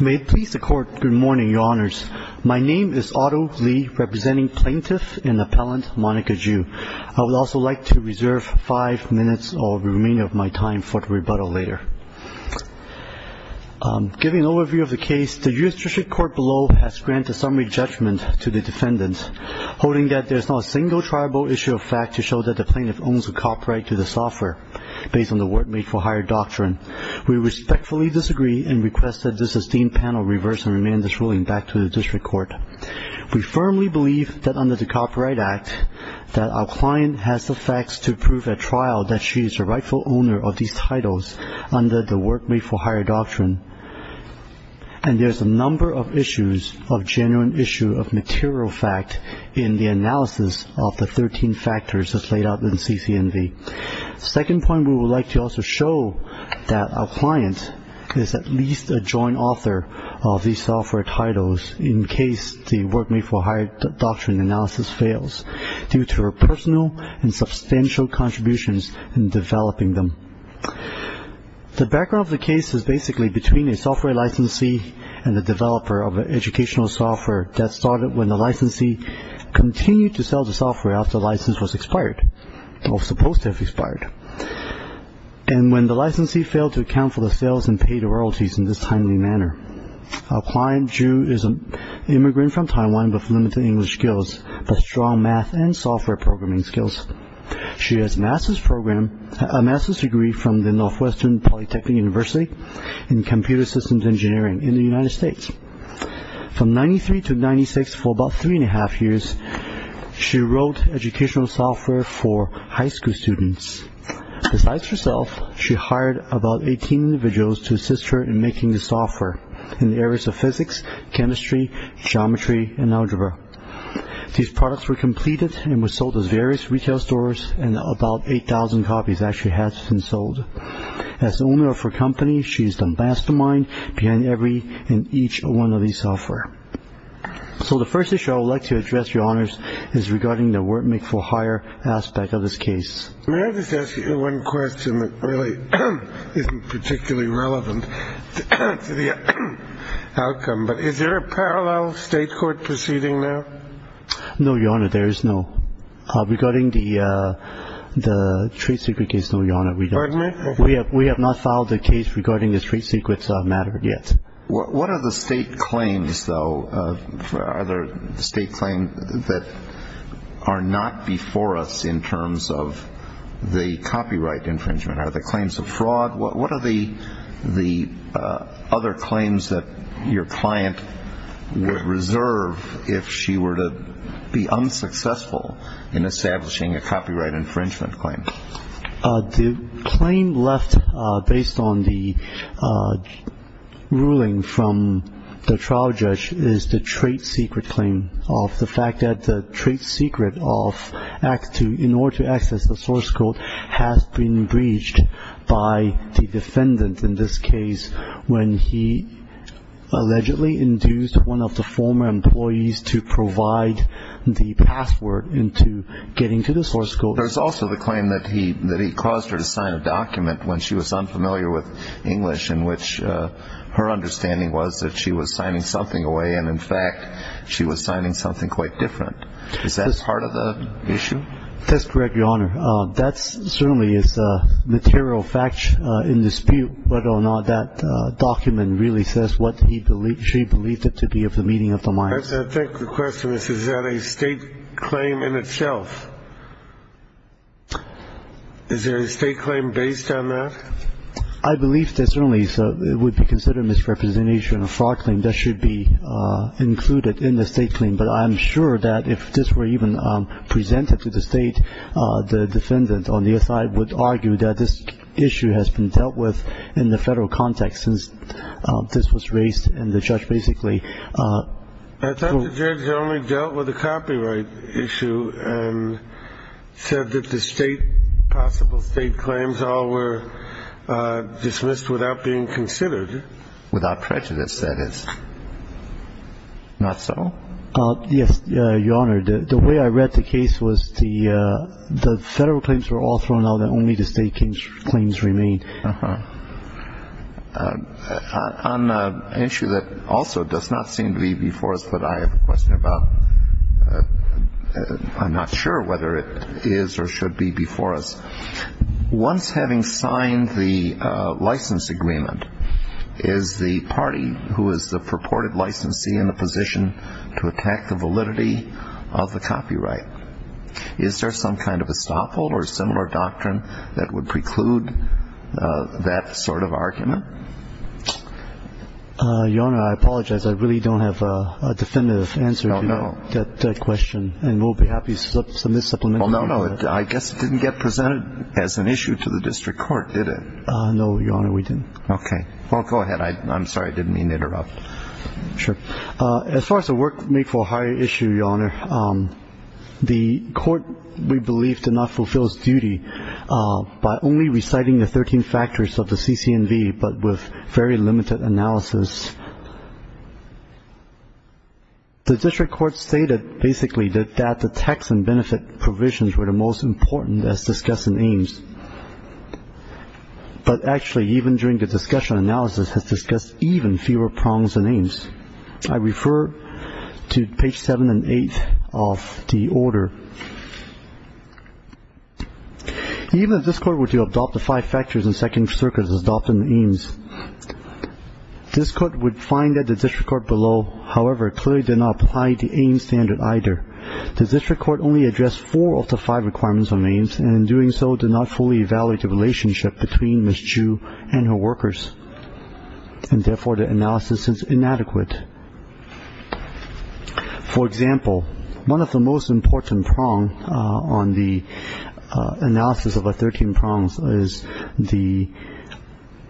May it please the Court, good morning, Your Honours. My name is Otto Lee, representing Plaintiff and Appellant Monica Jou. I would also like to reserve five minutes of the remainder of my time for the rebuttal later. Giving an overview of the case, the U.S. Judiciary Court below has granted summary judgment to the defendants, holding that there is not a single triable issue of fact to show that the plaintiff owns the copyright to the software, based on the Word Made for Hire Doctrine. We respectfully disagree and request that this esteemed panel reverse and remand this ruling back to the District Court. We firmly believe that under the Copyright Act that our client has the facts to prove at trial that she is a rightful owner of these titles under the Word Made for Hire Doctrine, and there's a number of issues of genuine issue of material fact in the analysis of the 13 factors as laid out in CCNV. Second point, we would like to also show that our client is at least a joint author of these software titles in case the Word Made for Hire Doctrine analysis fails, due to her personal and substantial contributions in developing them. The background of the case is basically between a software licensee and the developer of an educational software that started when the license was supposed to have expired, and when the licensee failed to account for the sales and paid royalties in this timely manner. Our client, Ju, is an immigrant from Taiwan with limited English skills, but strong math and software programming skills. She has a master's degree from the Northwestern Polytechnic University in Computer Systems Engineering in the United She wrote educational software for high school students. Besides herself, she hired about 18 individuals to assist her in making the software in the areas of physics, chemistry, geometry, and algebra. These products were completed and were sold at various retail stores, and about 8,000 copies actually have been sold. As the owner of her company, she is the mastermind behind every and each one of these software. So the first issue I would like to address, Your Honors, is regarding the Word Made for Hire aspect of this case. May I just ask you one question that really isn't particularly relevant to the outcome, but is there a parallel state court proceeding now? No, Your Honor, there is no. Regarding the trade secret case, no, Your Honor. Pardon me? We have not filed a case regarding the trade secrets matter yet. What are the state claims, though? Are there state claims that are not before us in terms of the copyright infringement? Are there claims of fraud? What are the other claims that your client would reserve if she were to be unsuccessful in establishing a copyright infringement claim? The claim left based on the ruling from the trial judge is the trade secret claim of the fact that the trade secret of act to in order to access the source code has been breached by the defendant in this case when he allegedly induced one of the former employees to provide the password into getting to the source code. There's also the claim that he that he caused her to sign a document when she was unfamiliar with English in which her understanding was that she was signing something away, and in fact, she was signing something quite different. Is that part of the issue? That's correct, Your Honor. That certainly is a material fact in dispute, whether or not that document really says what he believed she believed it to be of the meaning of the mind. I think the question is, is that a state claim in itself? Is there a state claim based on that? I believe there certainly would be considered misrepresentation of fraud claim that should be included in the state claim, but I'm sure that if this were even presented to the state, the defendant on the other side would argue that this issue has been dealt with in the state. The judge only dealt with the copyright issue and said that the state possible state claims all were dismissed without being considered. Without prejudice, that is. Not so? Yes, Your Honor. The way I read the case was the federal claims were all thrown out and only the state claims remained. Uh-huh. On an issue that also does not seem to be before us, but I have a question about. I'm not sure whether it is or should be before us. Once having signed the license agreement, is the party who is the purported licensee in the position to attack the validity of the copyright? Is there some kind of estoppel or similar doctrine that would preclude that sort of argument? Your Honor, I apologize. I really don't have a definitive answer to that question, and we'll be happy to submit supplementary. Well, no, no. I guess it didn't get presented as an issue to the district court, did it? No, Your Honor, we didn't. Okay. Well, go ahead. I'm sorry. I didn't mean to interrupt. Sure. As far as the work made for a higher issue, Your Honor, um, the court, we believe, did not fulfill its duty by only reciting the 13 factors of the CCNV, but with very limited analysis. The district court stated basically that the tax and benefit provisions were the most important as discussed in Ames, but actually even during the discussion analysis has discussed even fewer prongs than Ames. I refer to page 7 and 8 of the order. Even if this court were to adopt the five factors in Second Circuit as adopted in Ames, this court would find that the district court below, however, clearly did not apply the Ames standard either. The district court only addressed four of the five requirements on Ames, and in doing so, did not fully evaluate the relationship between Ms. Chu and her workers, and therefore, the analysis is inadequate. For example, one of the most important prongs on the analysis of the 13 prongs is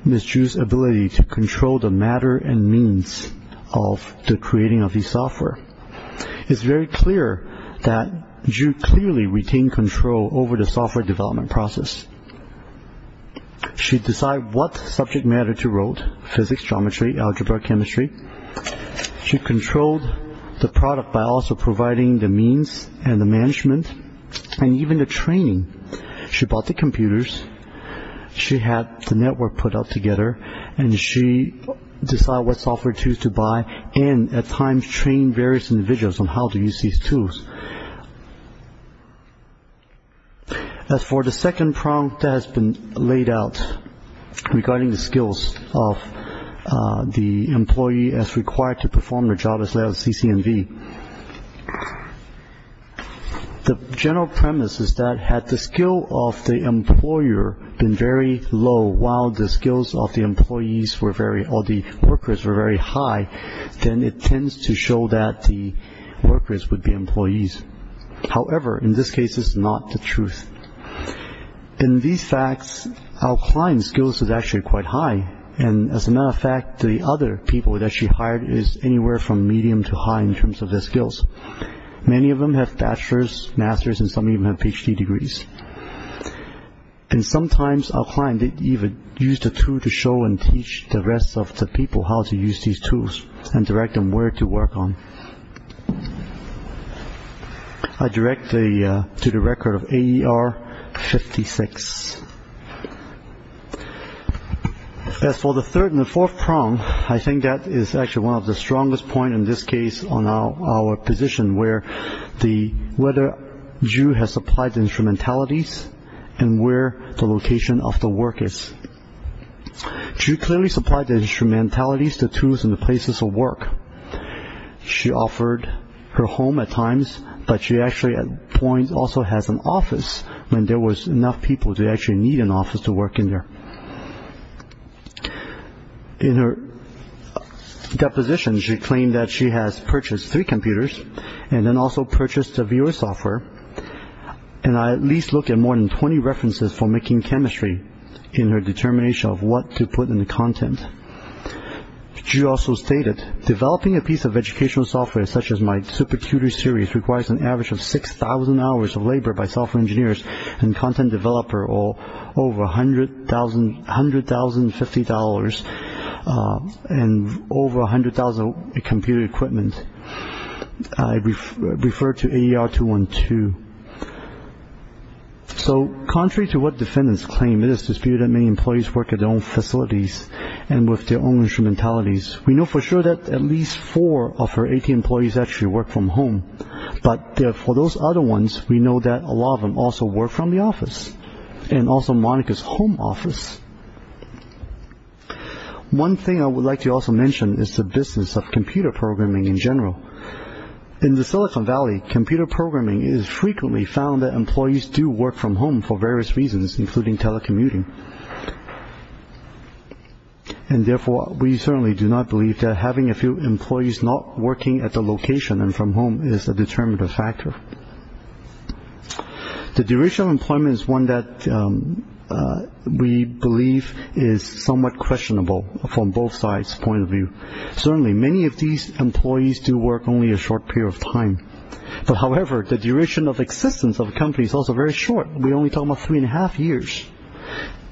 Ms. Chu's ability to control the matter and means of the creating of the software. It's very clear that Chu clearly retained control over the software development process. She decided what subject matter to wrote, physics, geometry, algebra, chemistry. She controlled the product by also providing the means and the management, and even the training. She bought the computers, she had the network put up together, and she decided what software tools to buy, and at times, trained various individuals on how to use these tools. As for the second prong that has been laid out regarding the skills of the employee as required to perform the job as laid out in CCMV, the general premise is that had the skill of the employer been very low while the skills of the employees were very, or the workers were very high, then it However, in this case, it's not the truth. In these facts, our client's skills are actually quite high, and as a matter of fact, the other people that she hired is anywhere from medium to high in terms of their skills. Many of them have bachelor's, master's, and some even have Ph.D. degrees. And sometimes, our client even used a tool to show and teach the rest of the how to use these tools and direct them where to work on. I direct to the record of AER 56. As for the third and the fourth prong, I think that is actually one of the strongest points, in this case, on our position where the, whether Ju has supplied the instrumentalities and where the location of the work is. Ju clearly supplied the instrumentalities, the tools, and the places of work. She offered her home at times, but she actually at point also has an office when there was enough people to actually need an office to work in there. In her deposition, she claimed that she has purchased three computers, and then also purchased a viewer software, and I at least look at more than 20 references for making chemistry in her determination of what to put in the content. Ju also stated, developing a piece of educational software such as my supercuter series requires an average of 6,000 hours of labor by software engineers and content developer, or over a hundred thousand, $1,050, and over a hundred thousand computer equipment. I refer to AER 212. So, contrary to what defendants claim, it is disputed that many employees work at their own facilities and with their own instrumentalities. We know for sure that at least four of her 80 employees actually work from home, but for those other ones, we know that a lot of them also work from the office, and also Monica's home office. One thing I would like to also mention is the business of computer programming in general. In the Silicon Valley, computer programming is frequently found that employees do work from home for various reasons, including telecommuting, and therefore we certainly do not believe that having a few employees not working at the location and from home is a determinative factor. The duration of employment is one that we believe is somewhat questionable from both sides' point of view. Certainly, many of these employees do work only a short period of time, but however, the duration of existence of a company is also very short. We're only talking about three and a half years.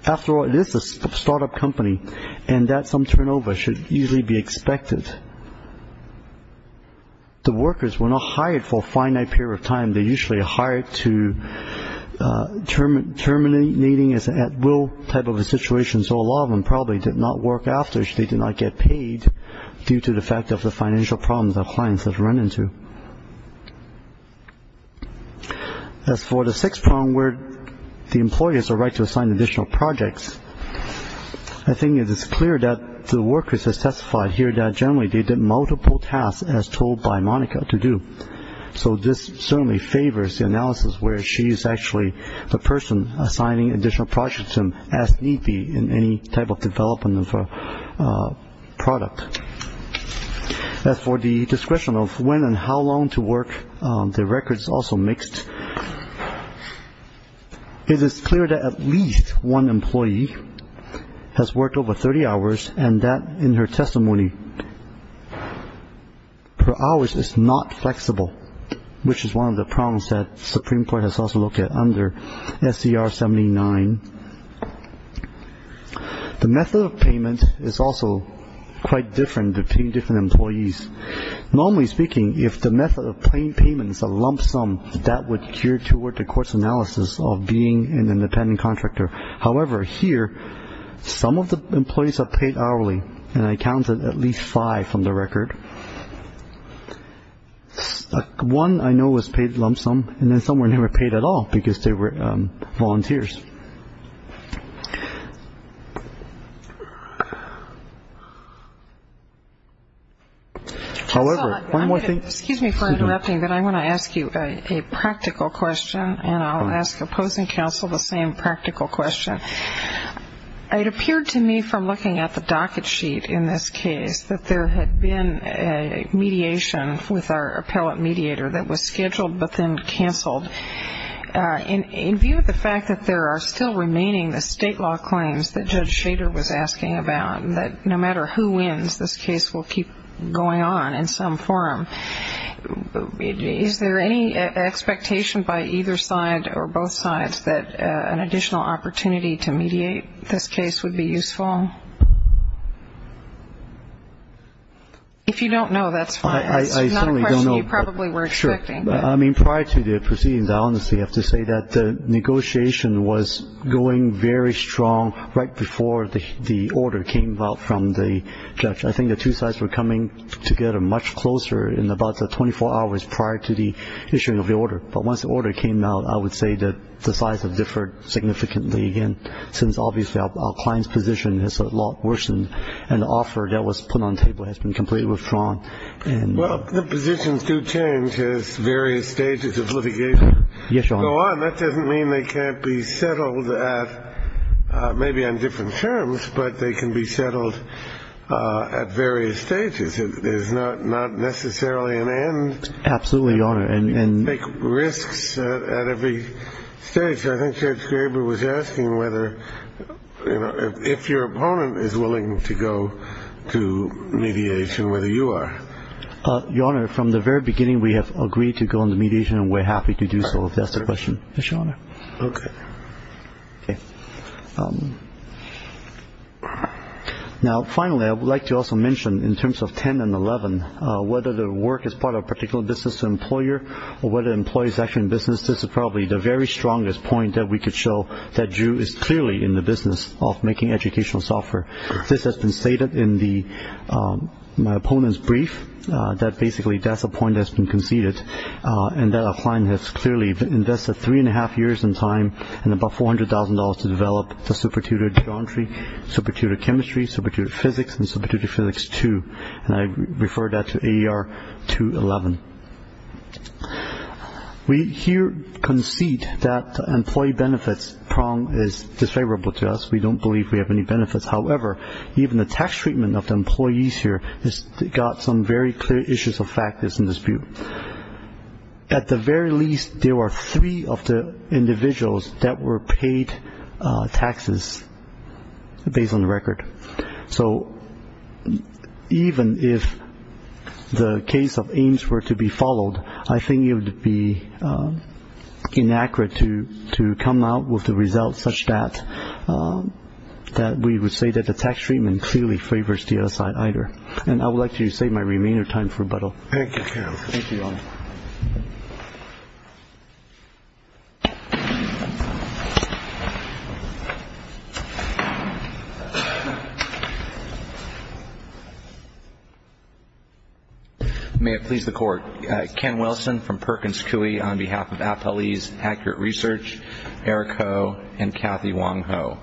After all, it is a startup company, and that some turnover should easily be expected. The workers were not hired for a finite period of time. They're usually hired to terminating at will type of a situation, so a lot of them probably did not work after, they did not get paid due to the fact of the financial problems that clients have run into. As for the sixth problem, where the employer has a right to assign additional projects, I think it is clear that the workers are specified here that generally, they did multiple tasks as told by Monica to do, so this certainly favors the analysis where she is actually the person assigning additional projects to them as need be in any type of development of a product. As for the discretion of when and how long to work, the record is also mixed. It is clear that at least one employee has worked over 30 hours and that in her testimony, her hours is not flexible, which is one of the problems that Supreme Court has also looked at under SCR 79. The method of payment is also quite different between different employees. Normally speaking, if the method of plain payment is a lump sum, that would gear toward the court's analysis of being an independent contractor. However, here, some of the employees are paid hourly, and I counted at least five from the record. One, I know, was paid lump sum, and then some were never paid at all because they were volunteers. However, one more thing. Excuse me for interrupting, but I want to ask you a practical question, and I'll ask opposing counsel the same practical question. It appeared to me from looking at the docket sheet in this case that there had been a mediation with our appellate mediator that was scheduled but then canceled. In view of the fact that there are still remaining the state law claims that Judge Shader was asking about, that no matter who wins, this case will keep going on in some form, is there any expectation by either side or both sides that an additional opportunity to mediate this case would be useful? If you don't know, that's fine. It's not a question you probably were expecting. I mean, prior to the proceedings, I honestly have to say that the negotiation was going very strong right before the order came out from the judge. I think the two sides were coming together much closer in about 24 hours prior to the issuing of the order, but once the order came out, I would say that the sides have differed significantly again, since obviously our client's position has worsened, and the offer that was put on table has been completely withdrawn. Well, the positions do change as various stages of litigation go on. That doesn't mean they can't be settled at maybe on different terms, but they can be settled at various stages. There's not at every stage. I think Judge Graber was asking whether, you know, if your opponent is willing to go to mediation, whether you are. Your Honor, from the very beginning, we have agreed to go into mediation, and we're happy to do so, if that's the question, Your Honor. Okay. Now, finally, I would like to also mention, in terms of 10 and 11, whether the work is part of business, this is probably the very strongest point that we could show that Drew is clearly in the business of making educational software. This has been stated in my opponent's brief, that basically that's a point that's been conceded, and that our client has clearly invested three and a half years in time and about $400,000 to develop the SuperTutor geometry, SuperTutor chemistry, SuperTutor physics, and SuperTutor physics two, and I refer that to AER 211. We here concede that the employee benefits prong is disfavorable to us. We don't believe we have any benefits. However, even the tax treatment of the employees here has got some very clear issues of factors in dispute. At the very least, there were three of the individuals that were paid taxes based on the record. So even if the case of Ames were to be followed, I think it would be inaccurate to come out with the results such that we would say that the tax treatment clearly favors the other side either, and I would like to save my remainder time for rebuttal. May it please the Court. Ken Wilson from Perkins Coie on behalf of Appellee's Accurate Research, Eric Ho, and Kathy Wong Ho.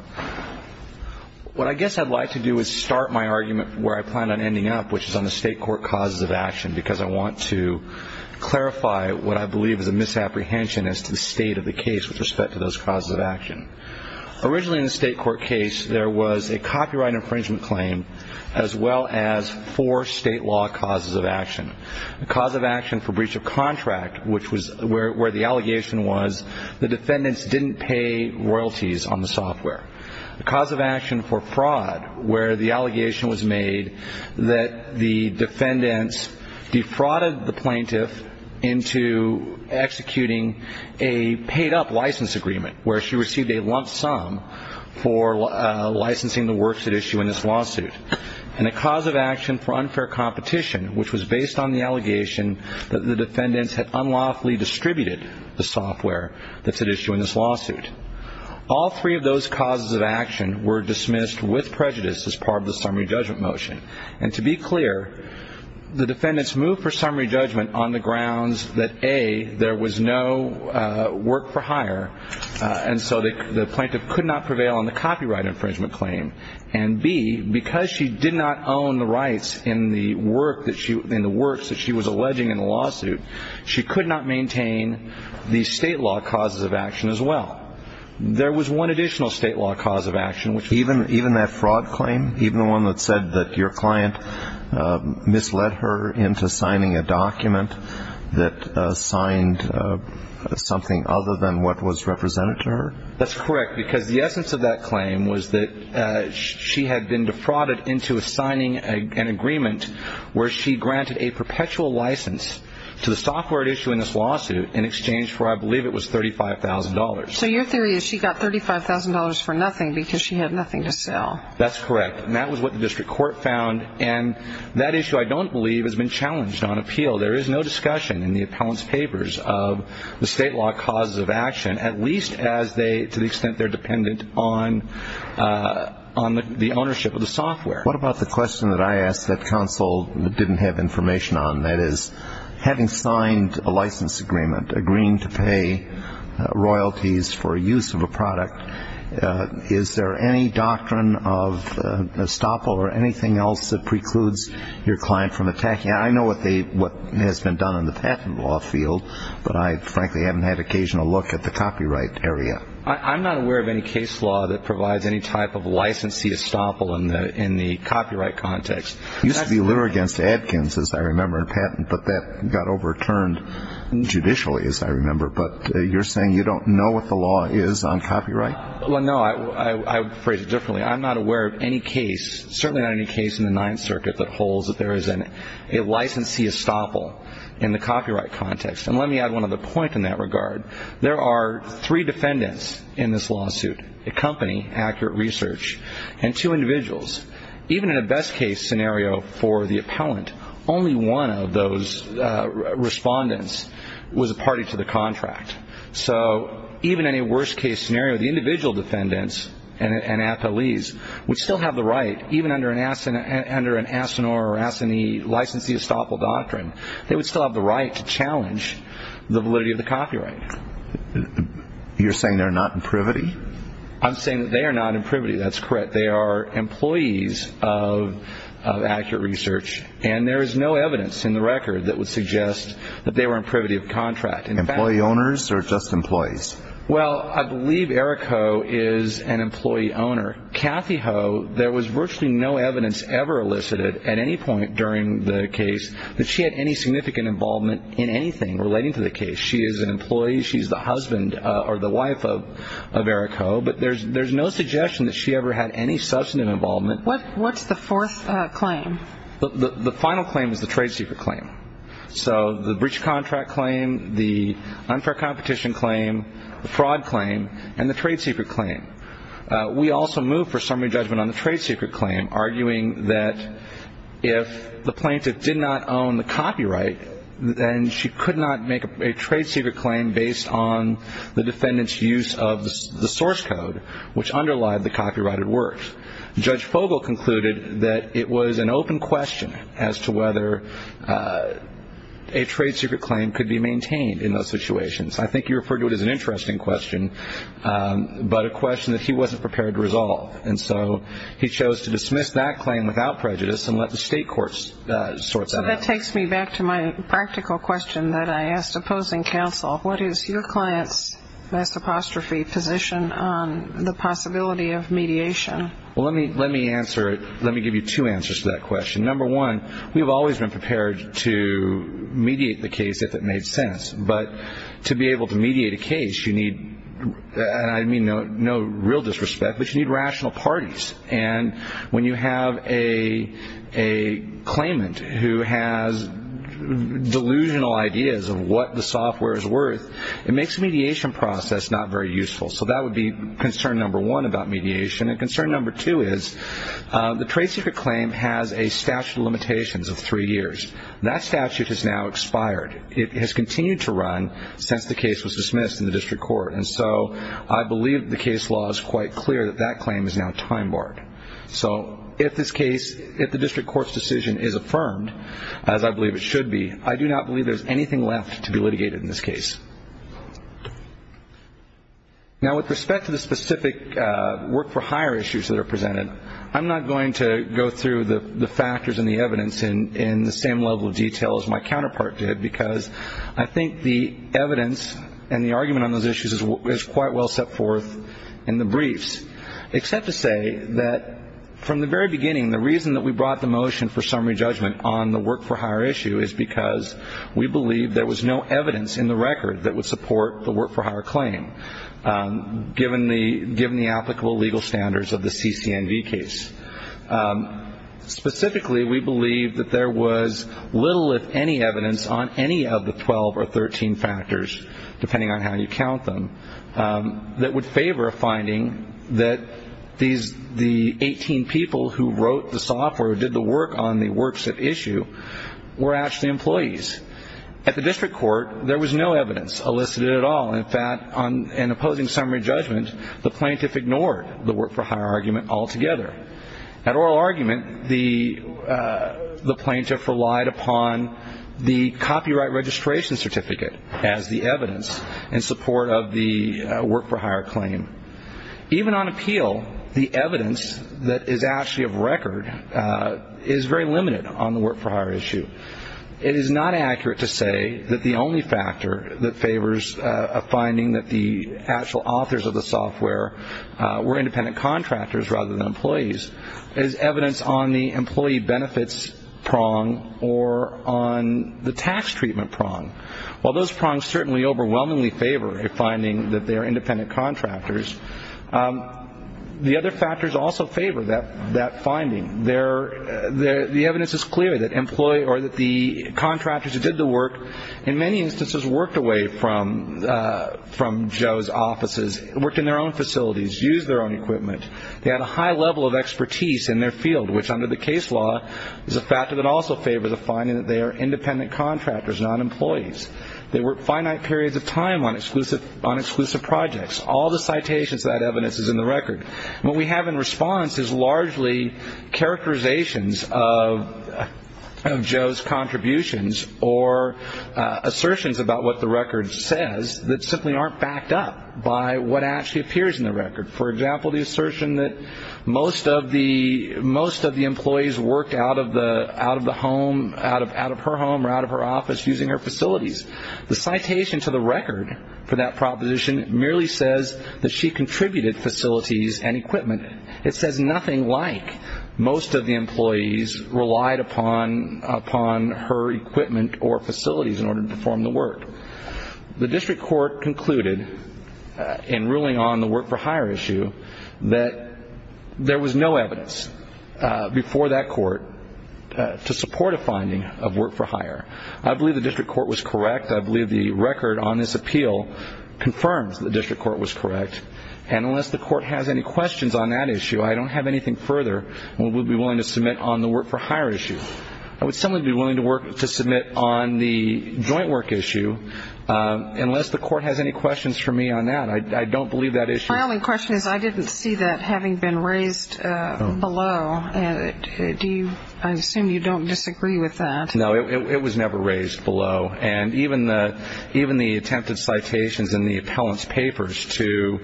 What I guess I'd like to do is start my argument where I plan on ending up, which is on the state court causes of action, because I want to clarify what I believe is a apprehension as to the state of the case with respect to those causes of action. Originally in the state court case, there was a copyright infringement claim as well as four state law causes of action. The cause of action for breach of contract, which was where the allegation was the defendants didn't pay royalties on the software. The cause of action for fraud, where the allegation was made that the defendants defrauded the plaintiff into executing a paid-up license agreement, where she received a lump sum for licensing the works at issue in this lawsuit. And the cause of action for unfair competition, which was based on the allegation that the defendants had unlawfully distributed the software that's at issue in this lawsuit. All three of those causes of action were dismissed with prejudice as part of the summary judgment motion. And to be clear, the defendants moved for summary judgment on the grounds that A, there was no work for hire, and so the plaintiff could not prevail on the copyright infringement claim. And B, because she did not own the rights in the works that she was alleging in there was one additional state law cause of action. Even that fraud claim? Even the one that said that your client misled her into signing a document that signed something other than what was represented to her? That's correct, because the essence of that claim was that she had been defrauded into signing an agreement where she granted a perpetual license to the software at issue in this lawsuit in exchange for I believe it was $35,000. So your theory is she got $35,000 for nothing because she had nothing to sell? That's correct. And that was what the district court found. And that issue I don't believe has been challenged on appeal. There is no discussion in the appellant's papers of the state law causes of action, at least as they, to the extent they're dependent on the ownership of the software. What about the question that I asked that counsel didn't have information on? That is, having signed a license agreement, agreeing to pay royalties for use of a product, is there any doctrine of estoppel or anything else that precludes your client from attacking? I know what has been done in the patent law field, but I frankly haven't had occasion to look at the copyright area. I'm not aware of any case law that provides any type of licensee estoppel in the copyright context. Used to be literary against Adkins, as I remember, in patent, but that got overturned judicially, as I remember. But you're saying you don't know what the law is on copyright? Well, no. I phrase it differently. I'm not aware of any case, certainly not any case in the Ninth Circuit, that holds that there is a licensee estoppel in the copyright context. And let me add one other point in that regard. There are three defendants in this lawsuit, a company, Accurate Research, and two individuals. Even in a best-case scenario for the appellant, only one of those respondents was a party to the contract. So even in a worst-case scenario, the individual defendants and athletes would still have the right, even under an Asinor or Asinee licensee estoppel doctrine, they would still have the right to challenge the validity of the I'm saying that they are not in privity. That's correct. They are employees of Accurate Research, and there is no evidence in the record that would suggest that they were in privity of contract. Employee owners or just employees? Well, I believe Eric Ho is an employee owner. Kathy Ho, there was virtually no evidence ever elicited at any point during the case that she had any significant involvement in anything relating to the case. She is an employee. She's the husband or the wife of Eric Ho, but there's no suggestion that she ever had any substantive involvement. What's the fourth claim? The final claim is the trade secret claim. So the breach of contract claim, the unfair competition claim, the fraud claim, and the trade secret claim. We also move for summary judgment on the trade secret claim, arguing that if the plaintiff did not own the defendant's use of the source code, which underlied the copyrighted works, Judge Fogel concluded that it was an open question as to whether a trade secret claim could be maintained in those situations. I think you referred to it as an interesting question, but a question that he wasn't prepared to resolve. And so he chose to dismiss that claim without prejudice and let the state courts sort that out. So that takes me back to my practical question that I asked opposing counsel. What is your client's best apostrophe position on the possibility of mediation? Well, let me answer it. Let me give you two answers to that question. Number one, we've always been prepared to mediate the case if it made sense. But to be able to mediate a case, you need, and I mean no real disrespect, but you need rational parties. And when you have a it makes the mediation process not very useful. So that would be concern number one about mediation. And concern number two is the trade secret claim has a statute of limitations of three years. That statute has now expired. It has continued to run since the case was dismissed in the district court. And so I believe the case law is quite clear that that claim is now time barred. So if this case, if the district court's decision is affirmed, as I believe it should be, I do not believe there's anything left to be litigated in this case. Now, with respect to the specific work for hire issues that are presented, I'm not going to go through the factors and the evidence in the same level of detail as my counterpart did, because I think the evidence and the argument on those issues is quite well set forth in the briefs, except to say that from the very beginning, the reason that we brought the motion for summary judgment on the work for hire issue is because we believe there was no evidence in the record that would support the work for hire claim, given the applicable legal standards of the CCNV case. Specifically, we believe that there was little, if any, evidence on any of the 12 or 13 factors, depending on how you count them, that would favor a finding that the 18 people who wrote the software, who did the work on the work for hire claim, were the employees. At the district court, there was no evidence elicited at all. In fact, in opposing summary judgment, the plaintiff ignored the work for hire argument altogether. At oral argument, the plaintiff relied upon the copyright registration certificate as the evidence in support of the work for hire claim. Even on appeal, the evidence that is actually record is very limited on the work for hire issue. It is not accurate to say that the only factor that favors a finding that the actual authors of the software were independent contractors rather than employees is evidence on the employee benefits prong or on the tax treatment prong. While those prongs certainly overwhelmingly favor a finding that they are independent contractors, the other factors also favor that finding. The evidence is clear that the contractors who did the work in many instances worked away from Joe's offices, worked in their own facilities, used their own equipment. They had a high level of expertise in their field, which under the case law is a factor that also favors a finding that they are independent contractors, not employees. They worked finite periods of time on exclusive projects. All the citations of that evidence is in the record. What we have in response is largely characterizations of Joe's contributions or assertions about what the record says that simply aren't backed up by what actually appears in the record. For example, the assertion that most of the employees worked out of the home, out of her office, using her facilities. The citation to the record for that proposition merely says that she contributed facilities and equipment. It says nothing like most of the employees relied upon her equipment or facilities in order to perform the work. The district court concluded in ruling on the work for hire issue that there was no evidence before that court to support a finding of work for hire. I believe the district court was correct. I believe the record on this appeal confirms the district court was correct. And unless the court has any questions on that issue, I don't have anything further we would be willing to submit on the work for hire issue. I would certainly be willing to work to submit on the joint work issue unless the court has any questions for me on that. I don't believe that issue. My only question is I didn't see that having been raised below. I assume you don't disagree with that. No, it was never raised below. And even the attempted citations in the appellant's papers to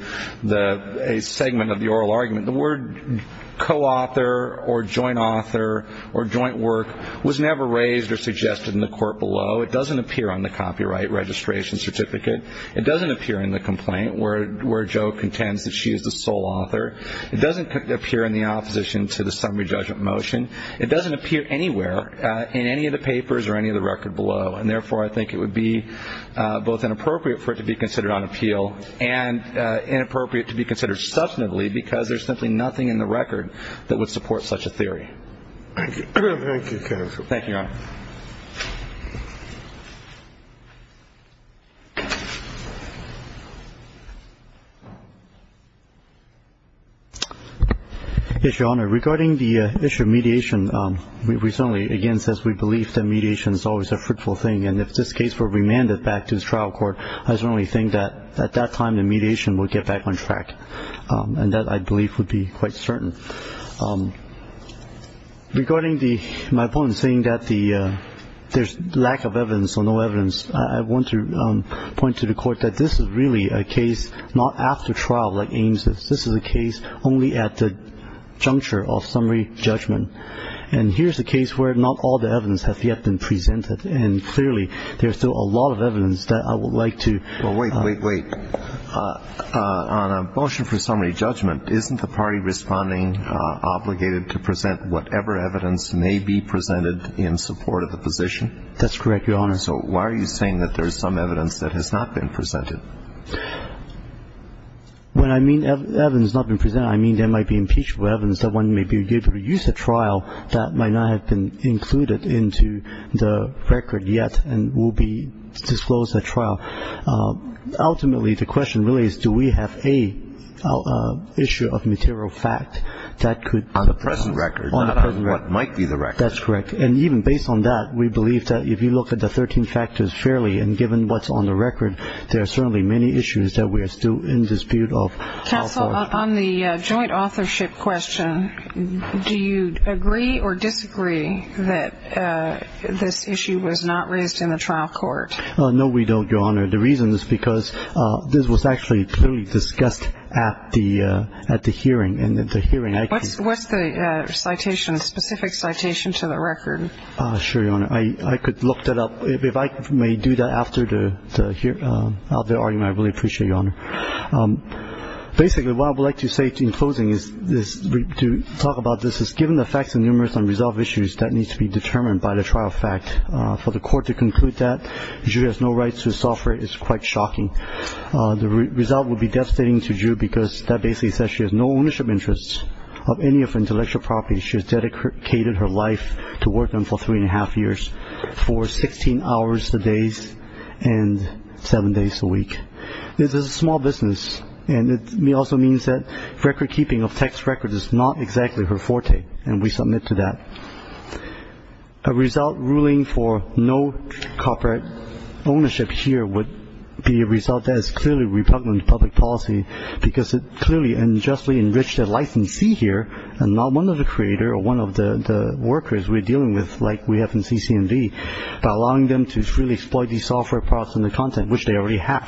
a segment of the oral argument, the word co-author or joint author or joint work was never raised or suggested in the court below. It doesn't appear on the copyright registration certificate. It doesn't appear in the complaint where Joe contends that she is the sole author. It doesn't appear in the opposition to the summary judgment motion. It doesn't appear anywhere in any of the papers or any of the record below. And therefore, I think it would be both inappropriate for it to be considered on appeal and inappropriate to be considered substantively because there's simply nothing in the record that would support such a theory. Thank you, Your Honor. Yes, Your Honor. Regarding the issue of mediation, we certainly, again, says we believe that mediation is always a fruitful thing. And if this case were remanded back to the trial court, I certainly think that at that time the mediation would get back on track and that, I believe, would be quite certain. Regarding my opponent saying that there's lack of evidence or no evidence, I want to point to the court that this is really a case not after trial like Ames did. This is a case only at the juncture of summary judgment. And here's a case where not all the evidence has yet been presented. And clearly, there's still a lot of evidence that I would like to... For summary judgment, isn't the party responding obligated to present whatever evidence may be presented in support of the position? That's correct, Your Honor. So why are you saying that there's some evidence that has not been presented? When I mean evidence has not been presented, I mean there might be impeachable evidence that one may be able to use at trial that might not have been included into the record yet and will disclose at trial. Ultimately, the question really is do we have a issue of material fact that could... On the present record, not on what might be the record. That's correct. And even based on that, we believe that if you look at the 13 factors fairly and given what's on the record, there are certainly many issues that we're still in dispute of. On the joint authorship question, do you agree or disagree that this issue was not raised in trial court? No, we don't, Your Honor. The reason is because this was actually clearly discussed at the hearing. What's the citation, specific citation to the record? Sure, Your Honor. I could look that up. If I may do that after the argument, I really appreciate it, Your Honor. Basically, what I would like to say in closing is to talk about this is given the facts and numerous unresolved issues that need to be determined by the trial fact for the court to conclude that Zhu has no rights to software is quite shocking. The result would be devastating to Zhu because that basically says she has no ownership interests of any of intellectual property. She has dedicated her life to work on for three and a half years for 16 hours a day and seven days a week. This is a small business, and it also means that record keeping of text records is not exactly her forte, and we submit to that. A result ruling for no copyright ownership here would be a result that is clearly repugnant of public policy because it clearly unjustly enriched their licensee here and not one of the creator or one of the workers we're dealing with like we have in CCMV by allowing them to freely exploit these software products and the content which they already have.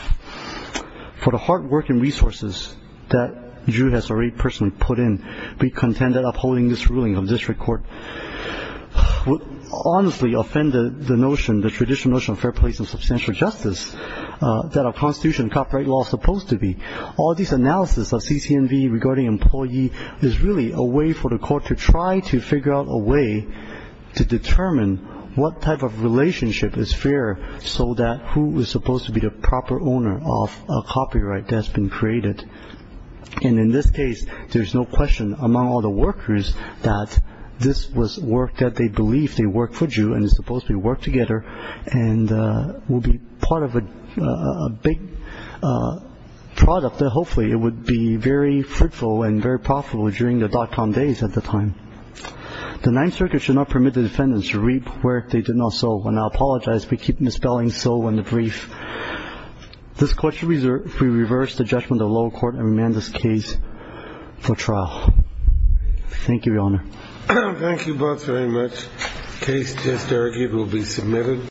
For the hard work and resources that Zhu has already personally put in, we contend that would honestly offend the notion, the traditional notion of fair place and substantial justice that a constitution copyright law is supposed to be. All these analysis of CCMV regarding employee is really a way for the court to try to figure out a way to determine what type of relationship is fair so that who is supposed to be the proper owner of a copyright that's been created. And in this case, there's no question among all the workers that this was work that they believed they worked for Zhu and it's supposed to be worked together and will be part of a big product that hopefully it would be very fruitful and very profitable during the dot com days at the time. The Ninth Circuit should not permit the defendants to reap where they did not sow. And I apologize, we keep misspelling sow in the brief. This question, we reverse the judgment of the lower court and remand this case for trial. Thank you, Your Honor. Thank you both very much. Case testarchy will be submitted.